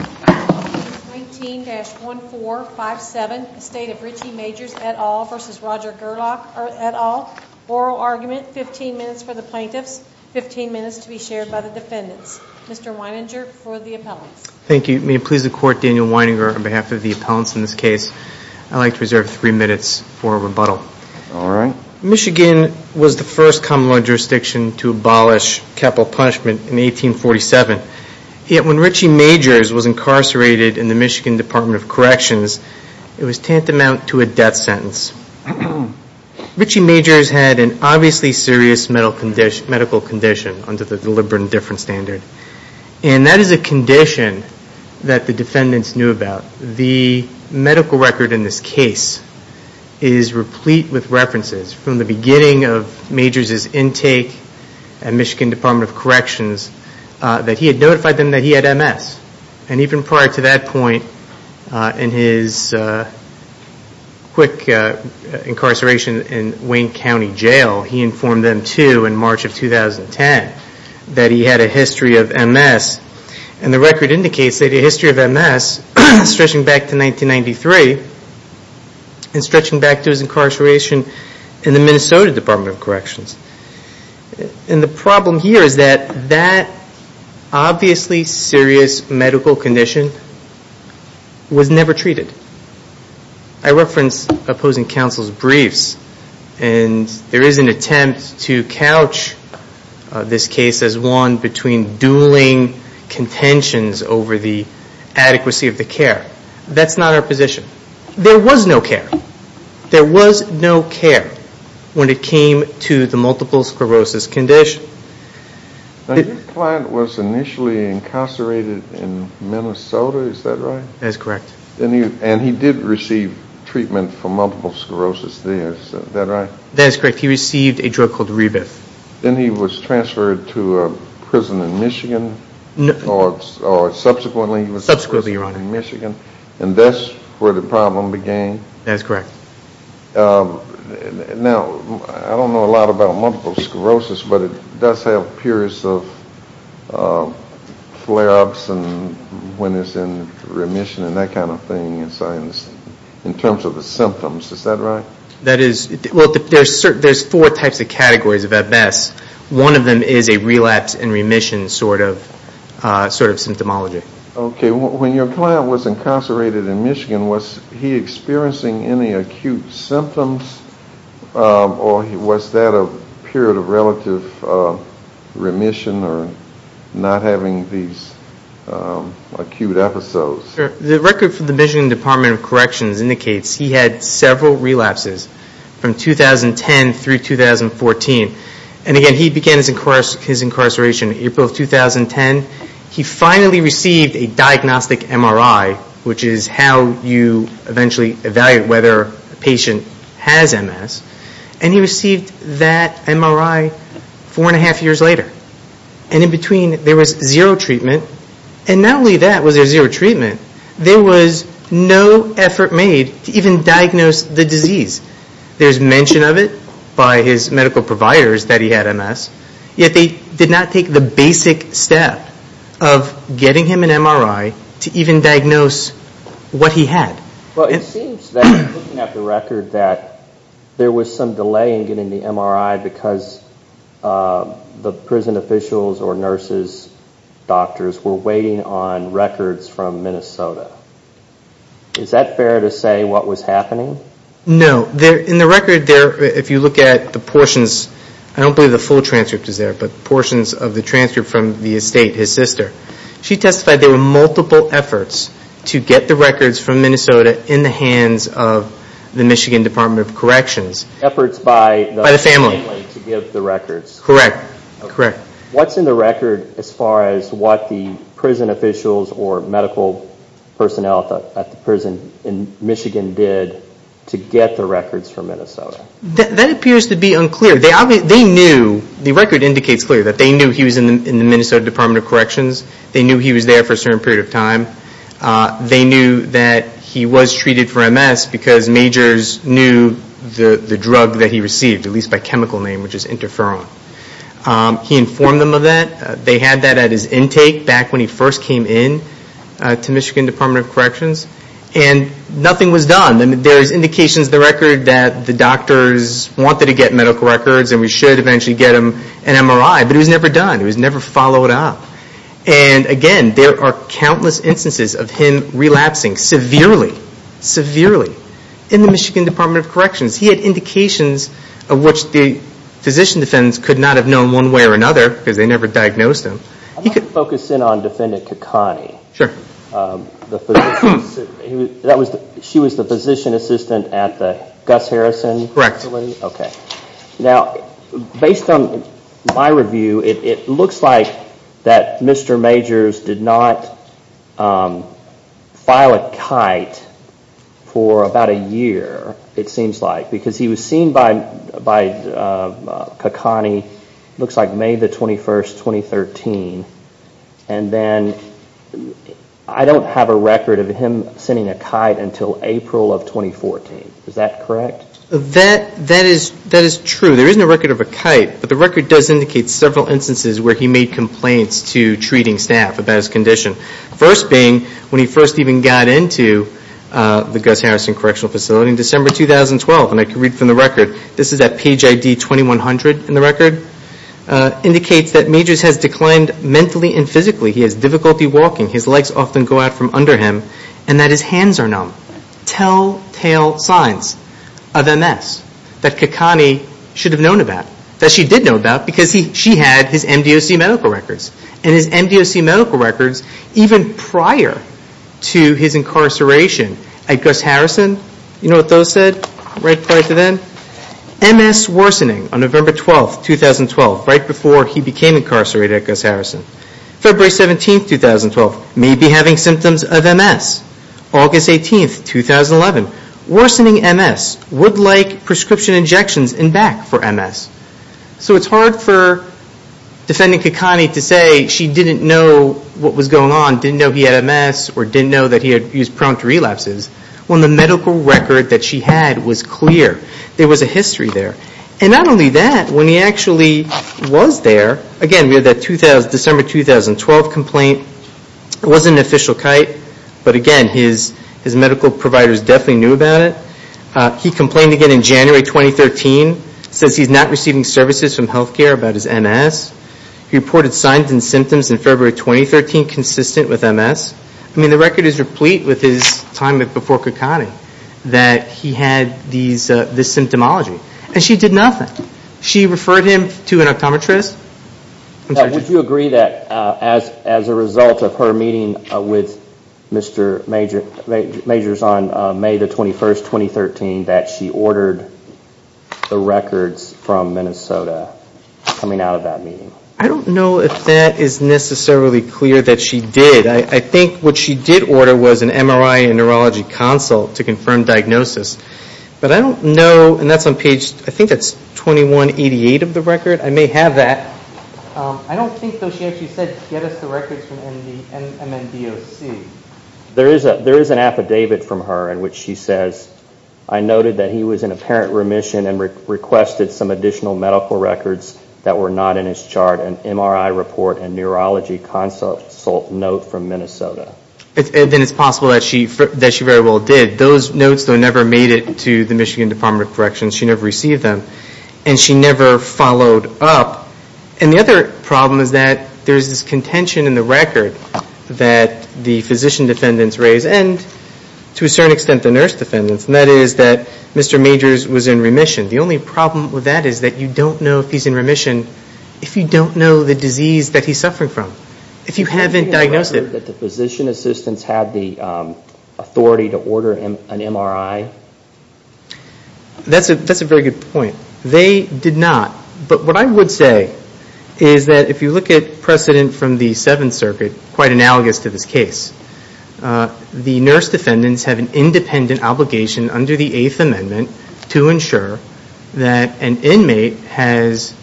19-1457, the State of Richie Majors et al. v. Roger Gerlach et al. Oral argument, 15 minutes for the plaintiffs, 15 minutes to be shared by the defendants. Mr. Weininger for the appellants. Thank you. May it please the Court, Daniel Weininger on behalf of the appellants in this case. I'd like to reserve three minutes for rebuttal. All right. Michigan was the first common law jurisdiction to abolish capital punishment in 1847. Yet when Richie Majors was incarcerated in the Michigan Department of Corrections, it was tantamount to a death sentence. Richie Majors had an obviously serious medical condition under the deliberate indifference standard. And that is a condition that the defendants knew about. The medical record in this case is replete with references from the beginning of Majors' intake at Michigan Department of Corrections that he had notified them that he had MS. And even prior to that point in his quick incarceration in Wayne County Jail, he informed them too in March of 2010 that he had a history of MS. And the record indicates that he had a history of MS stretching back to 1993 and stretching back to his incarceration in the Minnesota Department of Corrections. And the problem here is that that obviously serious medical condition was never treated. I referenced opposing counsel's briefs and there is an attempt to couch this case as one between dueling contentions over the adequacy of the care. That's not our position. There was no care. There was no care when it came to the multiple sclerosis condition. Now your client was initially incarcerated in Minnesota, is that right? That is correct. And he did receive treatment for multiple sclerosis there, is that right? That is correct. He received a drug called Rebif. Subsequently, Your Honor. And that's where the problem began? That's correct. Now, I don't know a lot about multiple sclerosis, but it does have periods of flare-ups and when it's in remission and that kind of thing in terms of the symptoms. Is that right? There's four types of categories of MS. One of them is a relapse and remission sort of symptomology. Okay. When your client was incarcerated in Michigan, was he experiencing any acute symptoms or was that a period of relative remission or not having these acute episodes? The record from the Michigan Department of Corrections indicates he had several relapses from 2010 through 2014. And again, he began his incarceration in April of 2010. He finally received a diagnostic MRI, which is how you eventually evaluate whether a patient has MS. And he received that MRI four and a half years later. And in between, there was zero treatment. And not only that was there zero treatment, there was no effort made to even diagnose the disease. There's mention of it by his medical providers that he had MS, yet they did not take the basic step of getting him an MRI to even diagnose what he had. Well, it seems that looking at the record that there was some delay in getting the MRI because the prison officials or nurses, doctors were waiting on records from Minnesota. Is that fair to say what was happening? No. In the record there, if you look at the portions, I don't believe the full transcript is there, but portions of the transcript from the estate, his sister, she testified there were multiple efforts to get the records from Minnesota in the hands of the Michigan Department of Corrections. Efforts by the family to give the records. Correct. What's in the record as far as what the prison officials or medical personnel at the prison in Michigan did to get the records from Minnesota? That appears to be unclear. They knew, the record indicates clearly that they knew he was in the Minnesota Department of Corrections. They knew he was there for a certain period of time. They knew that he was treated for MS because majors knew the drug that he received, at least by chemical name, which is interferon. He informed them of that. They had that at his intake back when he first came in to Michigan Department of Corrections. And nothing was done. There's indications in the record that the doctors wanted to get medical records and we should eventually get him an MRI, but it was never done. It was never followed up. And again, there are countless instances of him relapsing severely, severely, in the Michigan Department of Corrections. He had indications of which the physician defendants could not have known one way or another because they never diagnosed him. I'd like to focus in on Defendant Kakani. Sure. She was the physician assistant at the Gus Harrison facility? Correct. Okay. Now, based on my review, it looks like that Mr. Majors did not file a kite for about a year, it seems like, because he was seen by Kakani, looks like May the 21st, 2013, and then I don't have a record of him sending a kite until April of 2014. Is that correct? That is true. There isn't a record of a kite, but the record does indicate several instances where he made complaints to treating staff about his condition. First being, when he first even got into the Gus Harrison Correctional Facility in December 2012, and I can read from the record, this is at page ID 2100 in the record, indicates that Majors has declined mentally and physically. He has difficulty walking. His legs often go out from under him and that his hands are numb. Telltale signs of MS that Kakani should have known about, that she did know about, because she had his MDOC medical records. And his MDOC medical records even prior to his incarceration at Gus Harrison, you know what those said right prior to then? MS worsening on November 12th, 2012, right before he became incarcerated at Gus Harrison. February 17th, 2012, may be having symptoms of MS. August 18th, 2011, worsening MS, would like prescription injections and back for MS. So it's hard for Defendant Kakani to say she didn't know what was going on, didn't know he had MS or didn't know that he was prone to relapses, when the medical record that she had was clear. There was a history there. And not only that, when he actually was there, again, we have that December 2012 complaint. It wasn't an official kite, but again, his medical providers definitely knew about it. He complained again in January 2013, says he's not receiving services from health care about his MS. He reported signs and symptoms in February 2013 consistent with MS. I mean, the record is replete with his time before Kakani that he had this symptomology. And she did nothing. She referred him to an optometrist. Did you agree that as a result of her meeting with Mr. Majors on May the 21st, 2013, that she ordered the records from Minnesota coming out of that meeting? I don't know if that is necessarily clear that she did. I think what she did order was an MRI and neurology consult to confirm diagnosis. But I don't know, and that's on page, I think that's 2188 of the record. I may have that. I don't think, though, she actually said get us the records from MNDOC. There is an affidavit from her in which she says, I noted that he was in apparent remission and requested some additional medical records that were not in his chart and MRI report and neurology consult note from Minnesota. Then it's possible that she very well did. Those notes, though, never made it to the Michigan Department of Corrections. She never received them. And she never followed up. And the other problem is that there is this contention in the record that the physician defendants raise and, to a certain extent, the nurse defendants. And that is that Mr. Majors was in remission. The only problem with that is that you don't know if he's in remission if you don't know the disease that he's suffering from. If you haven't diagnosed it. Did you ever hear that the physician assistants had the authority to order an MRI? That's a very good point. They did not. But what I would say is that if you look at precedent from the Seventh Circuit, quite analogous to this case, the nurse defendants have an independent obligation under the Eighth Amendment to ensure that an inmate has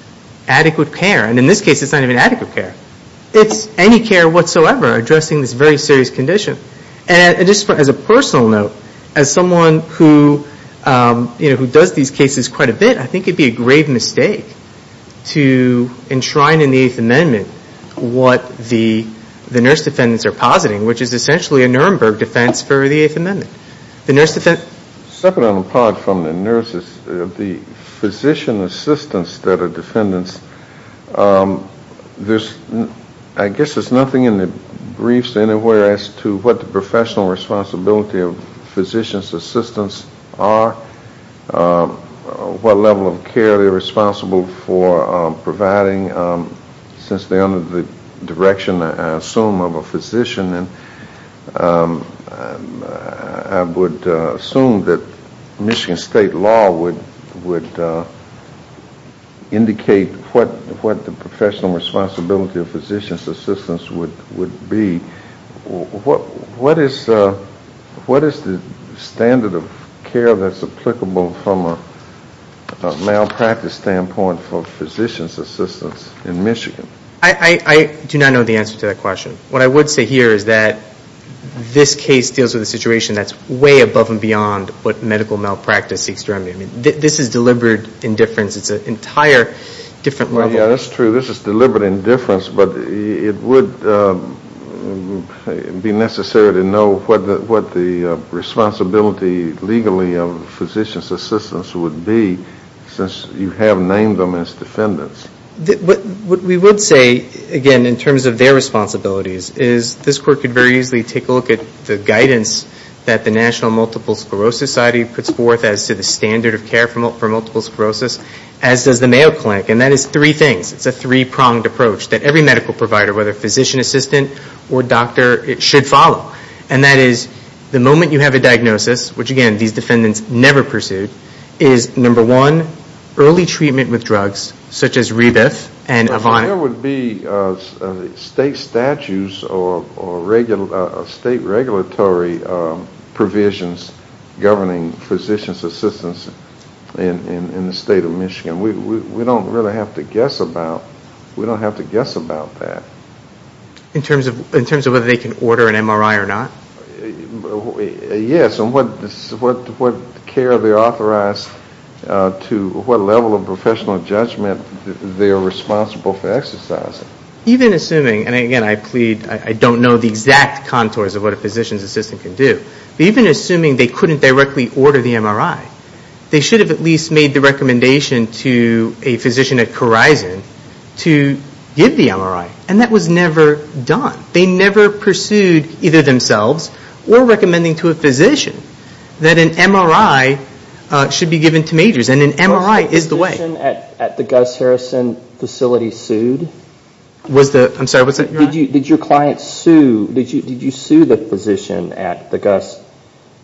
adequate care. And in this case, it's not even adequate care. It's any care whatsoever addressing this very serious condition. And just as a personal note, as someone who does these cases quite a bit, I think it would be a grave mistake to enshrine in the Eighth Amendment what the nurse defendants are positing, which is essentially a Nuremberg defense for the Eighth Amendment. Separate and apart from the nurses, the physician assistants that are defendants, I guess there's nothing in the briefs anywhere as to what the professional responsibility of physician assistants are, what level of care they're responsible for providing, since they're under the direction, I assume, of a physician. And I would assume that Michigan state law would indicate what the professional responsibility of physician assistants would be. What is the standard of care that's applicable from a malpractice standpoint for physician assistants in Michigan? I do not know the answer to that question. What I would say here is that this case deals with a situation that's way above and beyond what medical malpractice is. I mean, this is deliberate indifference. It's an entire different level. Well, yeah, that's true. This is deliberate indifference, but it would be necessary to know what the responsibility legally of physician assistants would be, since you have named them as defendants. What we would say, again, in terms of their responsibilities, is this court could very easily take a look at the guidance that the National Multiple Sclerosis Society puts forth as to the standard of care for multiple sclerosis, as does the Mayo Clinic. And that is three things. It's a three-pronged approach that every medical provider, whether physician assistant or doctor, it should follow. And that is, the moment you have a diagnosis, which, again, these defendants never pursued, is, number one, early treatment with drugs, such as Rebif and Avon. There would be state statutes or state regulatory provisions governing physician assistants in the state of Michigan. We don't really have to guess about that. In terms of whether they can order an MRI or not? Yes. And what care they're authorized to, what level of professional judgment they are responsible for exercising. Even assuming, and again, I plead, I don't know the exact contours of what a physician's assistant can do, but even assuming they couldn't directly order the MRI, they should have at least made the recommendation to a physician at Corison to give the MRI. And that was never done. They never pursued, either themselves or recommending to a physician, that an MRI should be given to majors. And an MRI is the way. Was the physician at the Gus Harrison facility sued? I'm sorry, what's that? Did your client sue, did you sue the physician at the Gus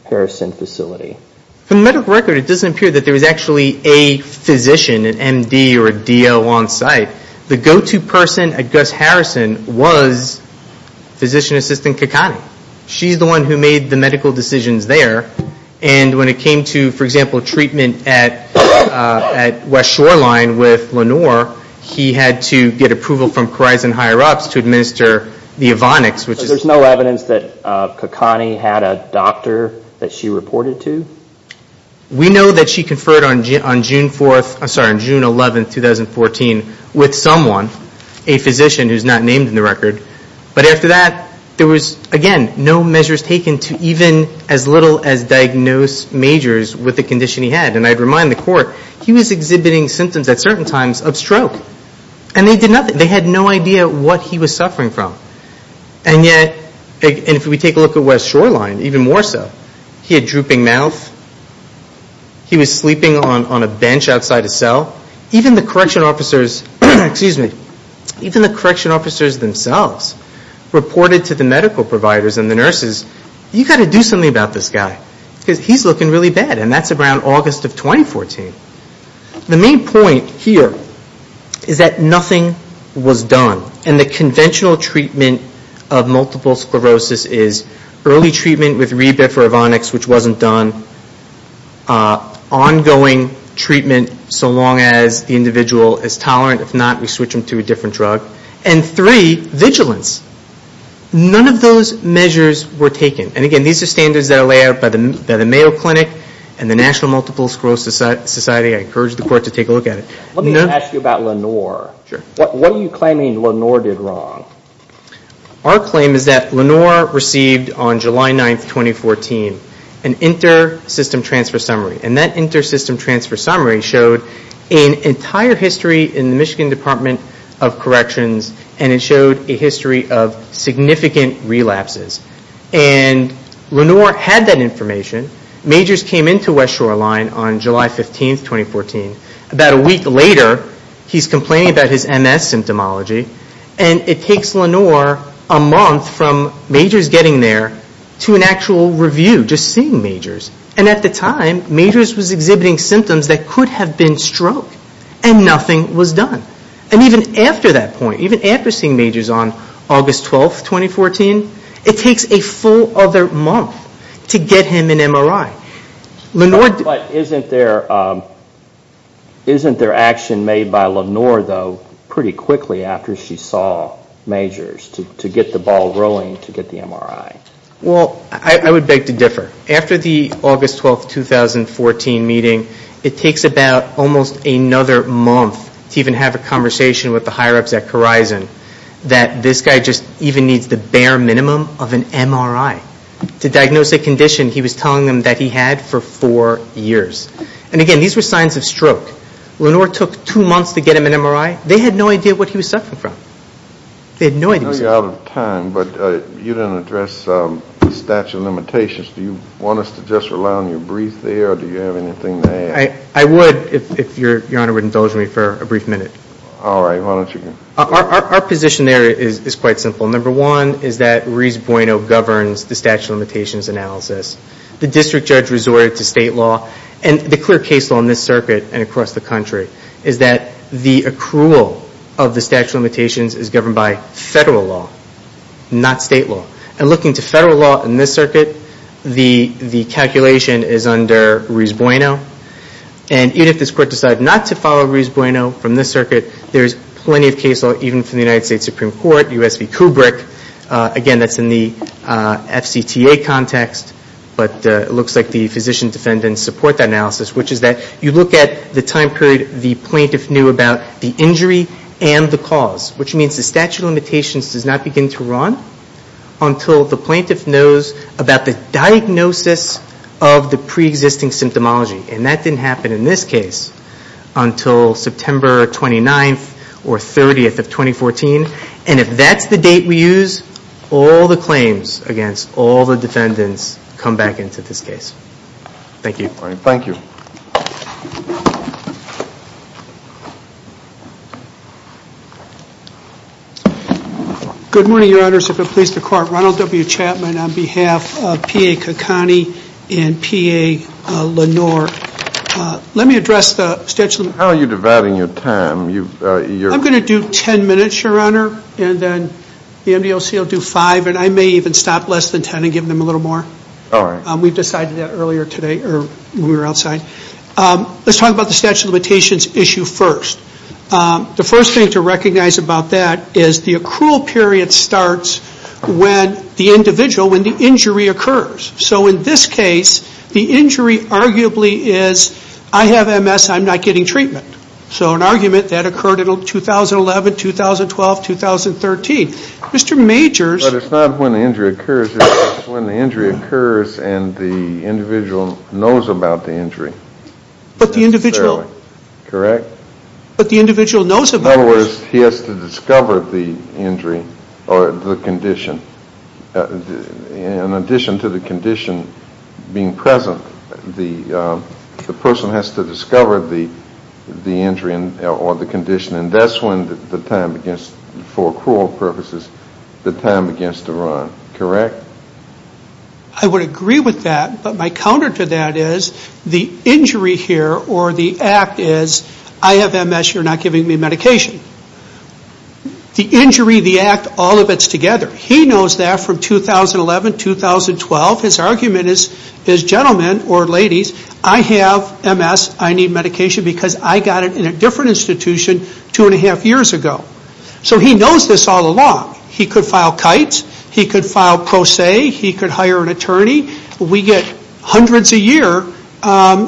Harrison facility? From medical record, it doesn't appear that there was actually a physician, an MD or a DO on site. The go-to person at Gus Harrison was physician assistant Kakani. She's the one who made the medical decisions there. And when it came to, for example, treatment at West Shoreline with Lenore, he had to get approval from Corison higher-ups to administer the Evonics. So there's no evidence that Kakani had a doctor that she reported to? We know that she conferred on June 4th, I'm sorry, on June 11th, 2014, with someone, a physician who's not named in the record. But after that, there was, again, no measures taken to even as little as diagnose majors with the condition he had. And I'd remind the court, he was exhibiting symptoms at certain times of stroke. And they did nothing. They had no idea what he was suffering from. And yet, if we take a look at West Shoreline, even more so, he had drooping mouth. He was sleeping on a bench outside a cell. Even the correction officers themselves reported to the medical providers and the nurses, you've got to do something about this guy because he's looking really bad. And that's around August of 2014. The main point here is that nothing was done. And the conventional treatment of multiple sclerosis is early treatment with Rebif or Evonics, which wasn't done. Ongoing treatment so long as the individual is tolerant. If not, we switch them to a different drug. And three, vigilance. None of those measures were taken. And again, these are standards that are laid out by the Mayo Clinic and the National Multiple Sclerosis Society. I encourage the court to take a look at it. Let me ask you about Lenore. What are you claiming Lenore did wrong? Our claim is that Lenore received on July 9, 2014, an inter-system transfer summary. And that inter-system transfer summary showed an entire history in the Michigan Department of Corrections and it showed a history of significant relapses. And Lenore had that information. Majors came into West Shoreline on July 15, 2014. About a week later, he's complaining about his MS symptomology. And it takes Lenore a month from majors getting there to an actual review, just seeing majors. And at the time, majors was exhibiting symptoms that could have been stroke. And nothing was done. And even after that point, even after seeing majors on August 12, 2014, it takes a full other month to get him an MRI. But isn't there action made by Lenore, though, pretty quickly after she saw majors to get the ball rolling to get the MRI? Well, I would beg to differ. After the August 12, 2014 meeting, it takes about almost another month to even have a conversation with the higher-ups at Khorizon that this guy just even needs the bare minimum of an MRI. To diagnose a condition he was telling them that he had for four years. And again, these were signs of stroke. Lenore took two months to get him an MRI. They had no idea what he was suffering from. They had no idea. I know you're out of time, but you didn't address the statute of limitations. Do you want us to just rely on your brief there, or do you have anything to add? I would, if Your Honor would indulge me for a brief minute. All right. Why don't you go ahead. Our position there is quite simple. Number one is that Ruiz-Bueno governs the statute of limitations analysis. The district judge resorted to state law. And the clear case law in this circuit and across the country is that the accrual of the statute of limitations is governed by federal law, not state law. And looking to federal law in this circuit, the calculation is under Ruiz-Bueno. And even if this court decided not to follow Ruiz-Bueno from this circuit, there is plenty of case law even from the United States Supreme Court, U.S. v. Kubrick. Again, that's in the FCTA context, but it looks like the physician defendants support that analysis, which is that you look at the time period the plaintiff knew about the injury and the cause, which means the statute of limitations does not begin to run until the plaintiff knows about the diagnosis of the preexisting symptomology. And that didn't happen in this case until September 29th or 30th of 2014. And if that's the date we use, all the claims against all the defendants come back into this case. Thank you. Thank you. Good morning, Your Honors. If it pleases the Court, Ronald W. Chapman on behalf of P.A. Kakani and P.A. Lenore. Let me address the statute of limitations. How are you dividing your time? I'm going to do ten minutes, Your Honor, and then the MDLC will do five, and I may even stop less than ten and give them a little more. All right. We decided that earlier today when we were outside. Let's talk about the statute of limitations issue first. The first thing to recognize about that is the accrual period starts when the individual, when the injury occurs. So in this case, the injury arguably is I have MS, I'm not getting treatment. So an argument that occurred in 2011, 2012, 2013. Mr. Majors. But it's not when the injury occurs. It's when the injury occurs and the individual knows about the injury. But the individual. Correct. But the individual knows about it. In other words, he has to discover the injury or the condition. In addition to the condition being present, the person has to discover the injury or the condition. And that's when the time begins, for accrual purposes, the time begins to run. Correct? I would agree with that. But my counter to that is the injury here or the act is I have MS, you're not giving me medication. The injury, the act, all of it's together. He knows that from 2011, 2012. His argument is gentlemen or ladies, I have MS. I need medication because I got it in a different institution two and a half years ago. So he knows this all along. He could file kites. He could file pro se. He could hire an attorney. We get hundreds a year.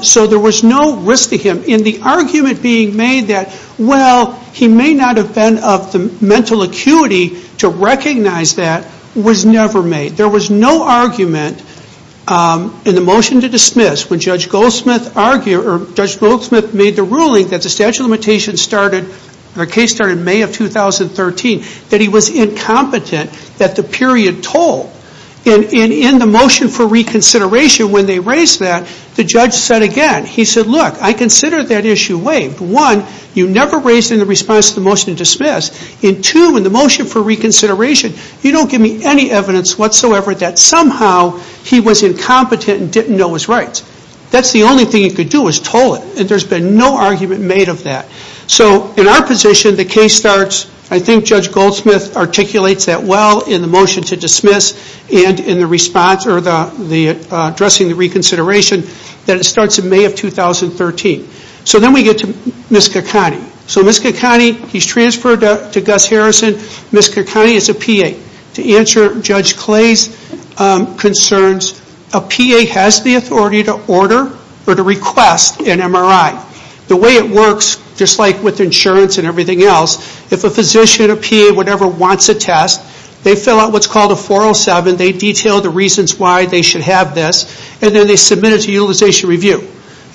So there was no risk to him. And the argument being made that, well, he may not have been of the mental acuity to recognize that, was never made. There was no argument in the motion to dismiss when Judge Goldsmith made the ruling that the statute of limitations started, in May of 2013, that he was incompetent at the period toll. And in the motion for reconsideration when they raised that, the judge said again. He said, look, I consider that issue waived. One, you never raised it in the response to the motion to dismiss. And two, in the motion for reconsideration, you don't give me any evidence whatsoever that somehow he was incompetent and didn't know his rights. That's the only thing he could do was toll it. And there's been no argument made of that. So in our position, the case starts, I think Judge Goldsmith articulates that well in the motion to dismiss and in the response, or addressing the reconsideration, that it starts in May of 2013. So then we get to Ms. Caccone. So Ms. Caccone, he's transferred to Gus Harrison. Ms. Caccone is a PA. To answer Judge Clay's concerns, a PA has the authority to order or to request an MRI. The way it works, just like with insurance and everything else, if a physician, a PA, whatever, wants a test, they fill out what's called a 407. They detail the reasons why they should have this. And then they submit it to Utilization Review.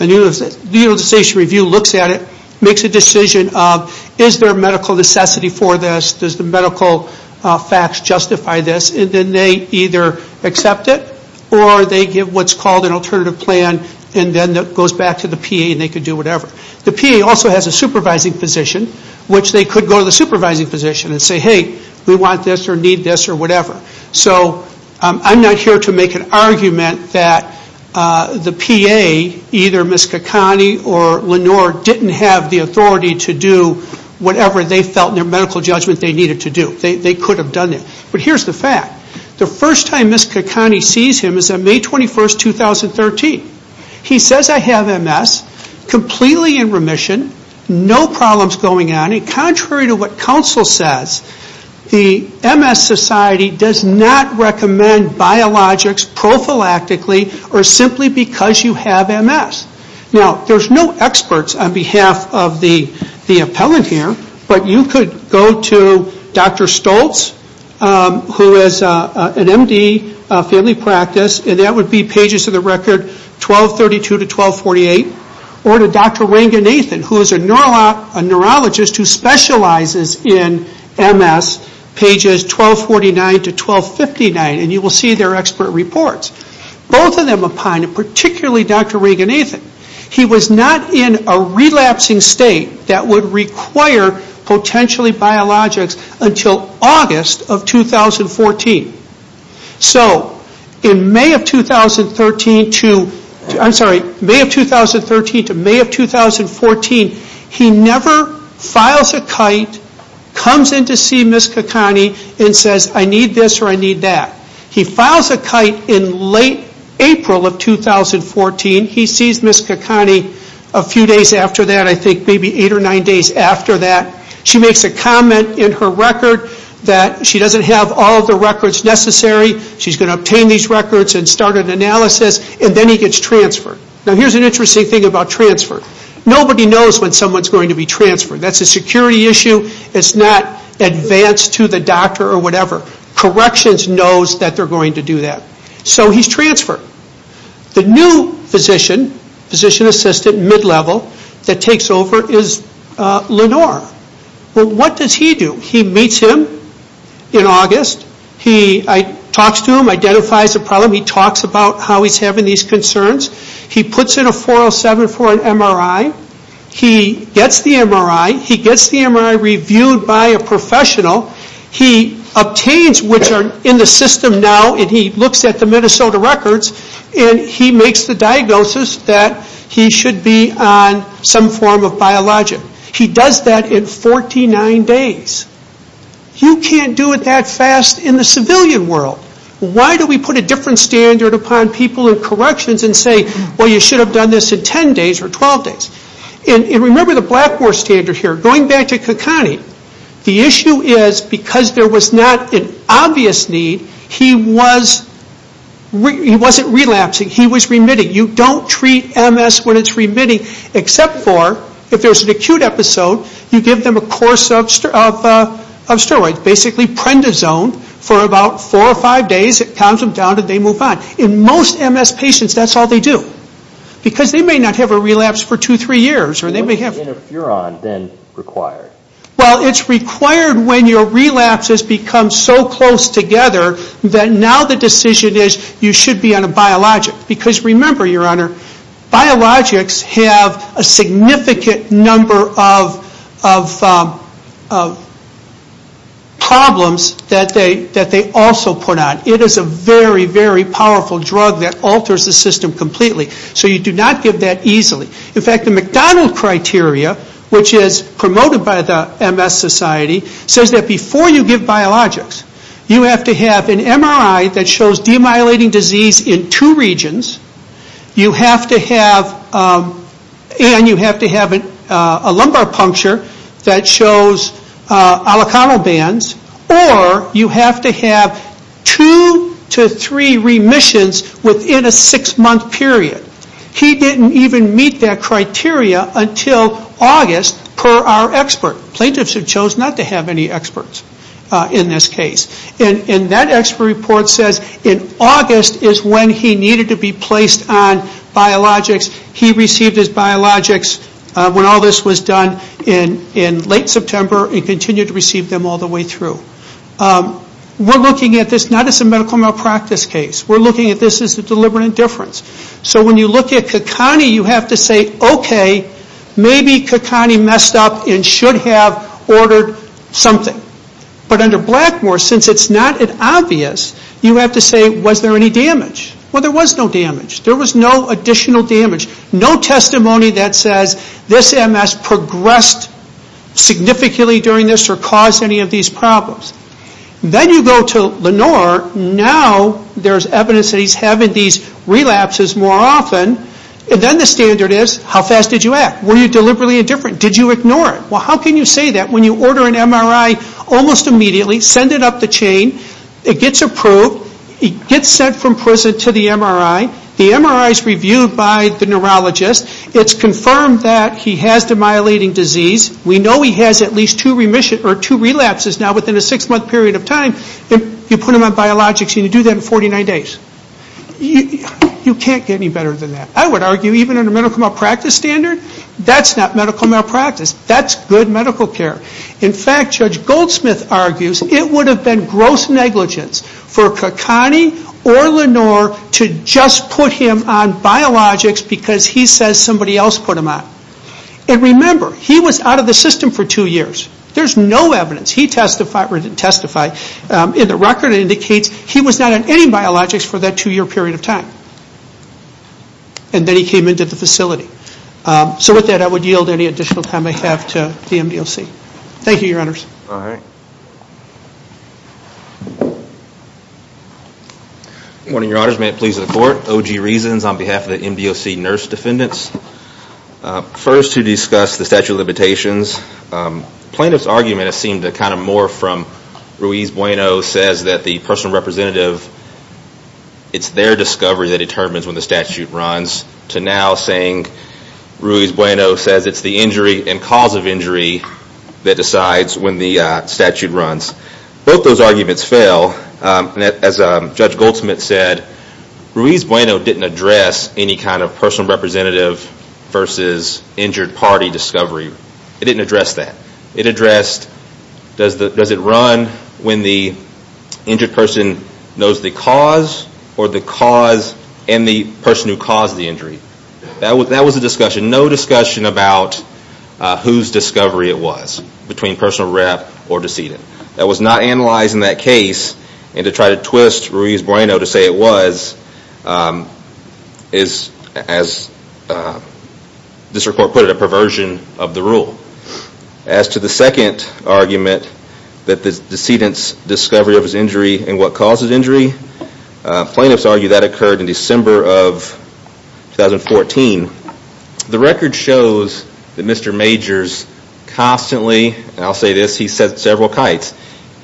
And the Utilization Review looks at it, makes a decision of is there medical necessity for this? Does the medical facts justify this? And then they either accept it or they give what's called an alternative plan. And then that goes back to the PA and they can do whatever. The PA also has a supervising physician, which they could go to the supervising physician and say, hey, we want this or need this or whatever. So I'm not here to make an argument that the PA, either Ms. Caccone or Lenore, didn't have the authority to do whatever they felt in their medical judgment they needed to do. They could have done it. But here's the fact. The first time Ms. Caccone sees him is on May 21, 2013. He says, I have MS, completely in remission, no problems going on. And contrary to what counsel says, the MS Society does not recommend biologics prophylactically or simply because you have MS. Now, there's no experts on behalf of the appellant here. But you could go to Dr. Stoltz, who is an MD, family practice, and that would be pages of the record 1232 to 1248. Or to Dr. Ranganathan, who is a neurologist who specializes in MS, pages 1249 to 1259. And you will see their expert reports. Both of them opine, and particularly Dr. Ranganathan, he was not in a relapsing state that would require potentially biologics until August of 2014. So in May of 2013 to May of 2014, he never files a kite, comes in to see Ms. Caccone and says, I need this or I need that. He files a kite in late April of 2014. He sees Ms. Caccone a few days after that, I think maybe eight or nine days after that. She makes a comment in her record that she doesn't have all the records necessary. She's going to obtain these records and start an analysis. And then he gets transferred. Now, here's an interesting thing about transfer. Nobody knows when someone is going to be transferred. That's a security issue. It's not advanced to the doctor or whatever. Corrections knows that they're going to do that. So he's transferred. The new physician, physician assistant, mid-level, that takes over is Lenore. What does he do? He meets him in August. He talks to him, identifies the problem. He talks about how he's having these concerns. He puts in a 407 for an MRI. He gets the MRI. He gets the MRI reviewed by a professional. He obtains, which are in the system now, and he looks at the Minnesota records, and he makes the diagnosis that he should be on some form of biologic. He does that in 49 days. You can't do it that fast in the civilian world. Why do we put a different standard upon people in corrections and say, well, you should have done this in 10 days or 12 days? And remember the Blackboard standard here. Going back to Kakani, the issue is because there was not an obvious need, he wasn't relapsing. He was remitting. You don't treat MS when it's remitting except for if there's an acute episode, you give them a course of steroids, basically Prendizone, for about four or five days. It calms them down, and they move on. In most MS patients, that's all they do because they may not have a relapse for two, three years. What's the interferon then required? Well, it's required when your relapses become so close together that now the decision is you should be on a biologic. Because remember, Your Honor, biologics have a significant number of problems that they also put on. It is a very, very powerful drug that alters the system completely. So you do not give that easily. In fact, the McDonald Criteria, which is promoted by the MS Society, says that before you give biologics, you have to have an MRI that shows demyelinating disease in two regions, and you have to have a lumbar puncture that shows alacronal bands, or you have to have two to three remissions within a six-month period. He didn't even meet that criteria until August, per our expert. Plaintiffs have chosen not to have any experts in this case. And that expert report says in August is when he needed to be placed on biologics. He received his biologics when all this was done in late September and continued to receive them all the way through. We're looking at this not as a medical malpractice case. We're looking at this as a deliberate indifference. So when you look at Kakani, you have to say, okay, maybe Kakani messed up and should have ordered something. But under Blackmore, since it's not an obvious, you have to say, was there any damage? Well, there was no damage. There was no additional damage. No testimony that says this MS progressed significantly during this or caused any of these problems. Then you go to Lenore. Now there's evidence that he's having these relapses more often. And then the standard is, how fast did you act? Were you deliberately indifferent? Did you ignore it? Well, how can you say that when you order an MRI almost immediately, send it up the chain, it gets approved, it gets sent from prison to the MRI, the MRI is reviewed by the neurologist, it's confirmed that he has demyelinating disease. We know he has at least two relapses now within a six-month period of time. You put him on biologics and you do that in 49 days. You can't get any better than that. I would argue even under medical malpractice standard, that's not medical malpractice. That's good medical care. In fact, Judge Goldsmith argues it would have been gross negligence for Kakani or Lenore to just put him on biologics because he says somebody else put him on. And remember, he was out of the system for two years. There's no evidence. He testified, or didn't testify, in the record indicates he was not on any biologics for that two-year period of time. And then he came into the facility. So with that, I would yield any additional time I have to the MDOC. Thank you, Your Honors. All right. Good morning, Your Honors. Judge, may it please the Court. O.G. Reasons on behalf of the MDOC Nurse Defendants. First, to discuss the statute of limitations. Plaintiff's argument has seemed to kind of morph from Ruiz Bueno says that the personal representative, it's their discovery that determines when the statute runs, to now saying Ruiz Bueno says it's the injury and cause of injury that decides when the statute runs. Both those arguments fail. As Judge Goldsmith said, Ruiz Bueno didn't address any kind of personal representative versus injured party discovery. It didn't address that. It addressed does it run when the injured person knows the cause or the cause and the person who caused the injury. That was a discussion. No discussion about whose discovery it was between personal rep or decedent. That was not analyzed in that case and to try to twist Ruiz Bueno to say it was is, as this report put it, a perversion of the rule. As to the second argument that the decedent's discovery of his injury and what caused his injury, plaintiffs argue that occurred in December of 2014. The record shows that Mr. Majors constantly, and I'll say this, he set several kites.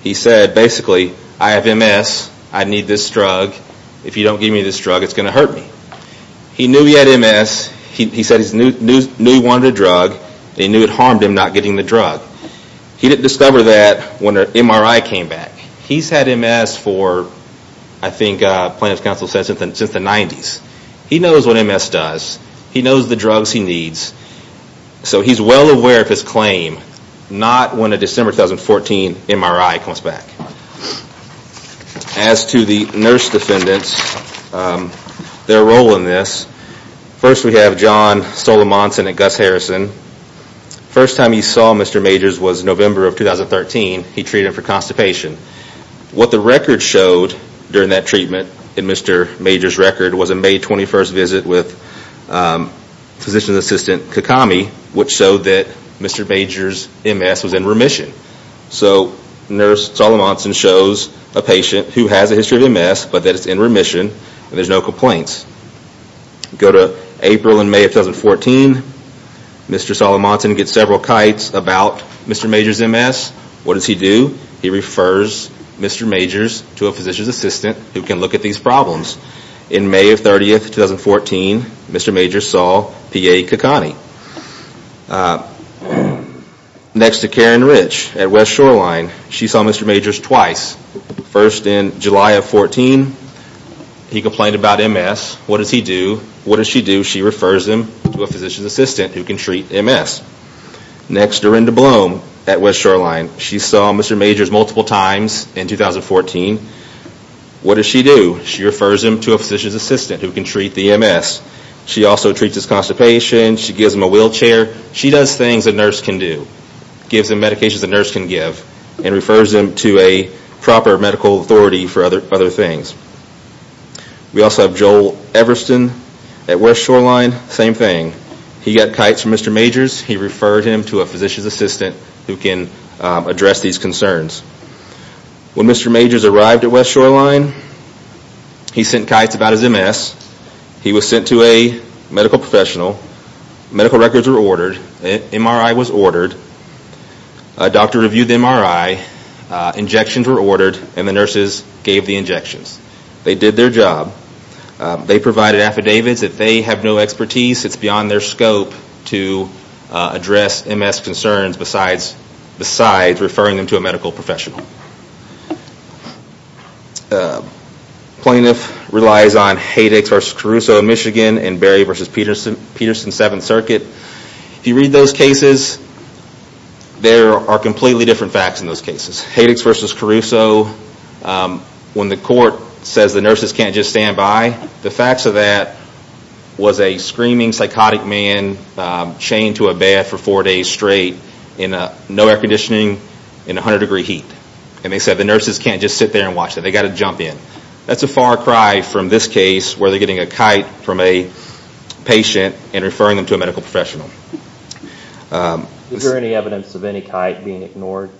He said basically, I have MS, I need this drug. If you don't give me this drug, it's going to hurt me. He knew he had MS. He said he knew he wanted a drug. He knew it harmed him not getting the drug. He didn't discover that when the MRI came back. He's had MS for I think plaintiff's counsel says since the 90s. He knows what MS does. He knows the drugs he needs. So he's well aware of his claim, not when a December 2014 MRI comes back. As to the nurse defendants, their role in this, first we have John Solomonson and Gus Harrison. First time he saw Mr. Majors was November of 2013. He treated him for constipation. What the record showed during that treatment in Mr. Majors' record was a May 21st visit with physician's assistant Kakami which showed that Mr. Majors' MS was in remission. So nurse Solomonson shows a patient who has a history of MS but that it's in remission and there's no complaints. Go to April and May of 2014. Mr. Solomonson gets several kites about Mr. Majors' MS. What does he do? He refers Mr. Majors to a physician's assistant who can look at these problems. In May of 30th, 2014, Mr. Majors saw P.A. Kakami. Next to Karen Rich at West Shoreline, she saw Mr. Majors twice. First in July of 14, he complained about MS. What does he do? What does she do? She refers him to a physician's assistant who can treat MS. Next, Dorinda Blum at West Shoreline. She saw Mr. Majors multiple times in 2014. What does she do? She refers him to a physician's assistant who can treat the MS. She also treats his constipation. She gives him a wheelchair. She does things a nurse can do, gives him medications a nurse can give and refers him to a proper medical authority for other things. We also have Joel Everston at West Shoreline. Same thing. He got kites from Mr. Majors. He referred him to a physician's assistant who can address these concerns. When Mr. Majors arrived at West Shoreline, he sent kites about his MS. He was sent to a medical professional. Medical records were ordered. MRI was ordered. A doctor reviewed the MRI. Injections were ordered, and the nurses gave the injections. They did their job. They provided affidavits. If they have no expertise, it's beyond their scope to address MS concerns besides referring them to a medical professional. Plaintiff relies on Haydix v. Caruso in Michigan and Berry v. Peterson, 7th Circuit. If you read those cases, there are completely different facts in those cases. Haydix v. Caruso, when the court says the nurses can't just stand by, the facts of that was a screaming, psychotic man chained to a bed for four days straight in no air conditioning, in 100-degree heat. And they said the nurses can't just sit there and watch that. They've got to jump in. That's a far cry from this case where they're getting a kite from a patient and referring them to a medical professional. Is there any evidence of any kite being ignored?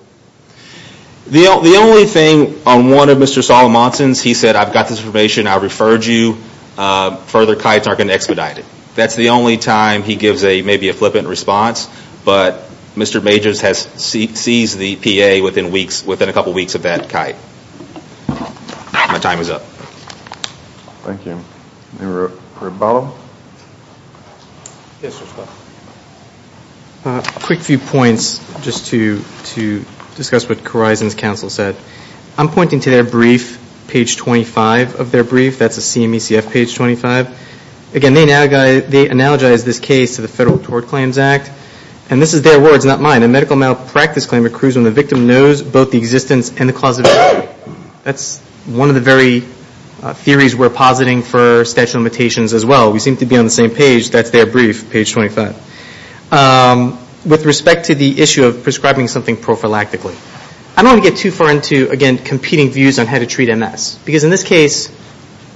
The only thing on one of Mr. Solomonson's, he said, I've got this information, I referred you, further kites aren't going to expedite it. That's the only time he gives maybe a flippant response, but Mr. Majors sees the PA within a couple weeks of that kite. My time is up. Thank you. Mr. Barlow? A quick few points just to discuss what Carizon's counsel said. I'm pointing to their brief, page 25 of their brief. That's a CMECF page 25. Again, they analogize this case to the Federal Tort Claims Act. And this is their words, not mine. A medical malpractice claim accrues when the victim knows both the existence and the cause of death. That's one of the very theories we're positing for statute of limitations as well. We seem to be on the same page. That's their brief, page 25. With respect to the issue of prescribing something prophylactically, I don't want to get too far into, again, competing views on how to treat MS. Because in this case,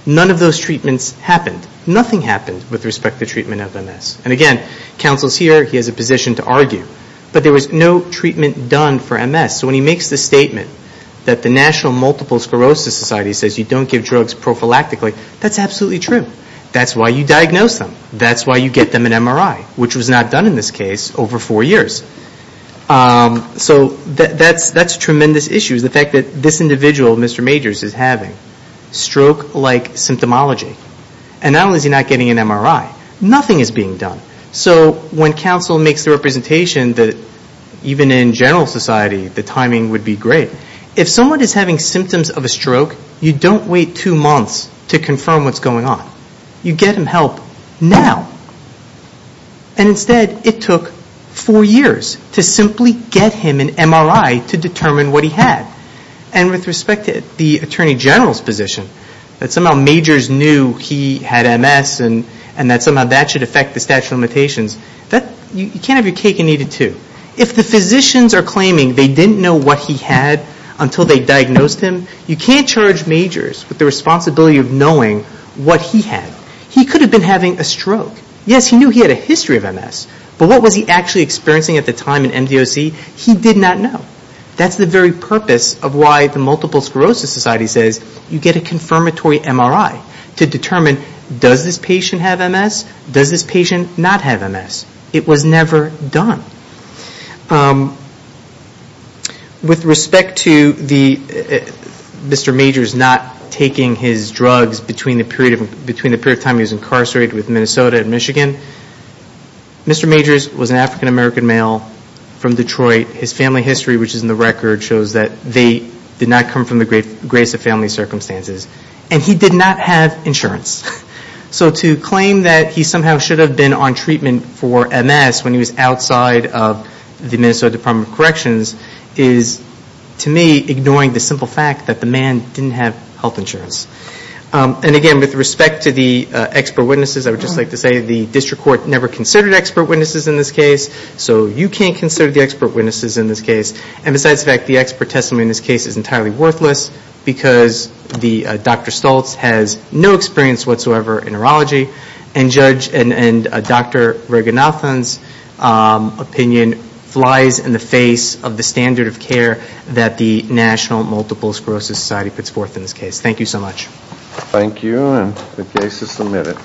none of those treatments happened. Nothing happened with respect to treatment of MS. And again, counsel's here. He has a position to argue. But there was no treatment done for MS. So when he makes the statement that the National Multiple Sclerosis Society says you don't give drugs prophylactically, that's absolutely true. That's why you diagnose them. That's why you get them an MRI, which was not done in this case over four years. So that's a tremendous issue, the fact that this individual, Mr. Majors, is having stroke-like symptomology. And not only is he not getting an MRI, nothing is being done. So when counsel makes the representation that even in general society, the timing would be great, if someone is having symptoms of a stroke, you don't wait two months to confirm what's going on. You get them help now. And instead, it took four years to simply get him an MRI to determine what he had. And with respect to the Attorney General's position, that somehow Majors knew he had MS and that somehow that should affect the statute of limitations, you can't have your cake and eat it too. If the physicians are claiming they didn't know what he had until they diagnosed him, you can't charge Majors with the responsibility of knowing what he had. He could have been having a stroke. Yes, he knew he had a history of MS. But what was he actually experiencing at the time in MDOC, he did not know. That's the very purpose of why the Multiple Sclerosis Society says you get a confirmatory MRI to determine does this patient have MS, does this patient not have MS. It was never done. With respect to Mr. Majors not taking his drugs between the period of time he was incarcerated with Minnesota and Michigan, Mr. Majors was an African-American male from Detroit. His family history, which is in the record, shows that they did not come from the greatest of family circumstances. And he did not have insurance. So to claim that he somehow should have been on treatment for MS when he was outside of Minnesota Department of Corrections is, to me, ignoring the simple fact that the man didn't have health insurance. And again, with respect to the expert witnesses, I would just like to say the District Court never considered expert witnesses in this case. So you can't consider the expert witnesses in this case. And besides the fact that the expert testimony in this case is entirely worthless because Dr. Stoltz has no experience whatsoever in neurology. And Dr. Raganathan's opinion flies in the face of the standard of care that the National Multiple Sclerosis Society puts forth in this case. Thank you so much. Thank you, and the case is submitted.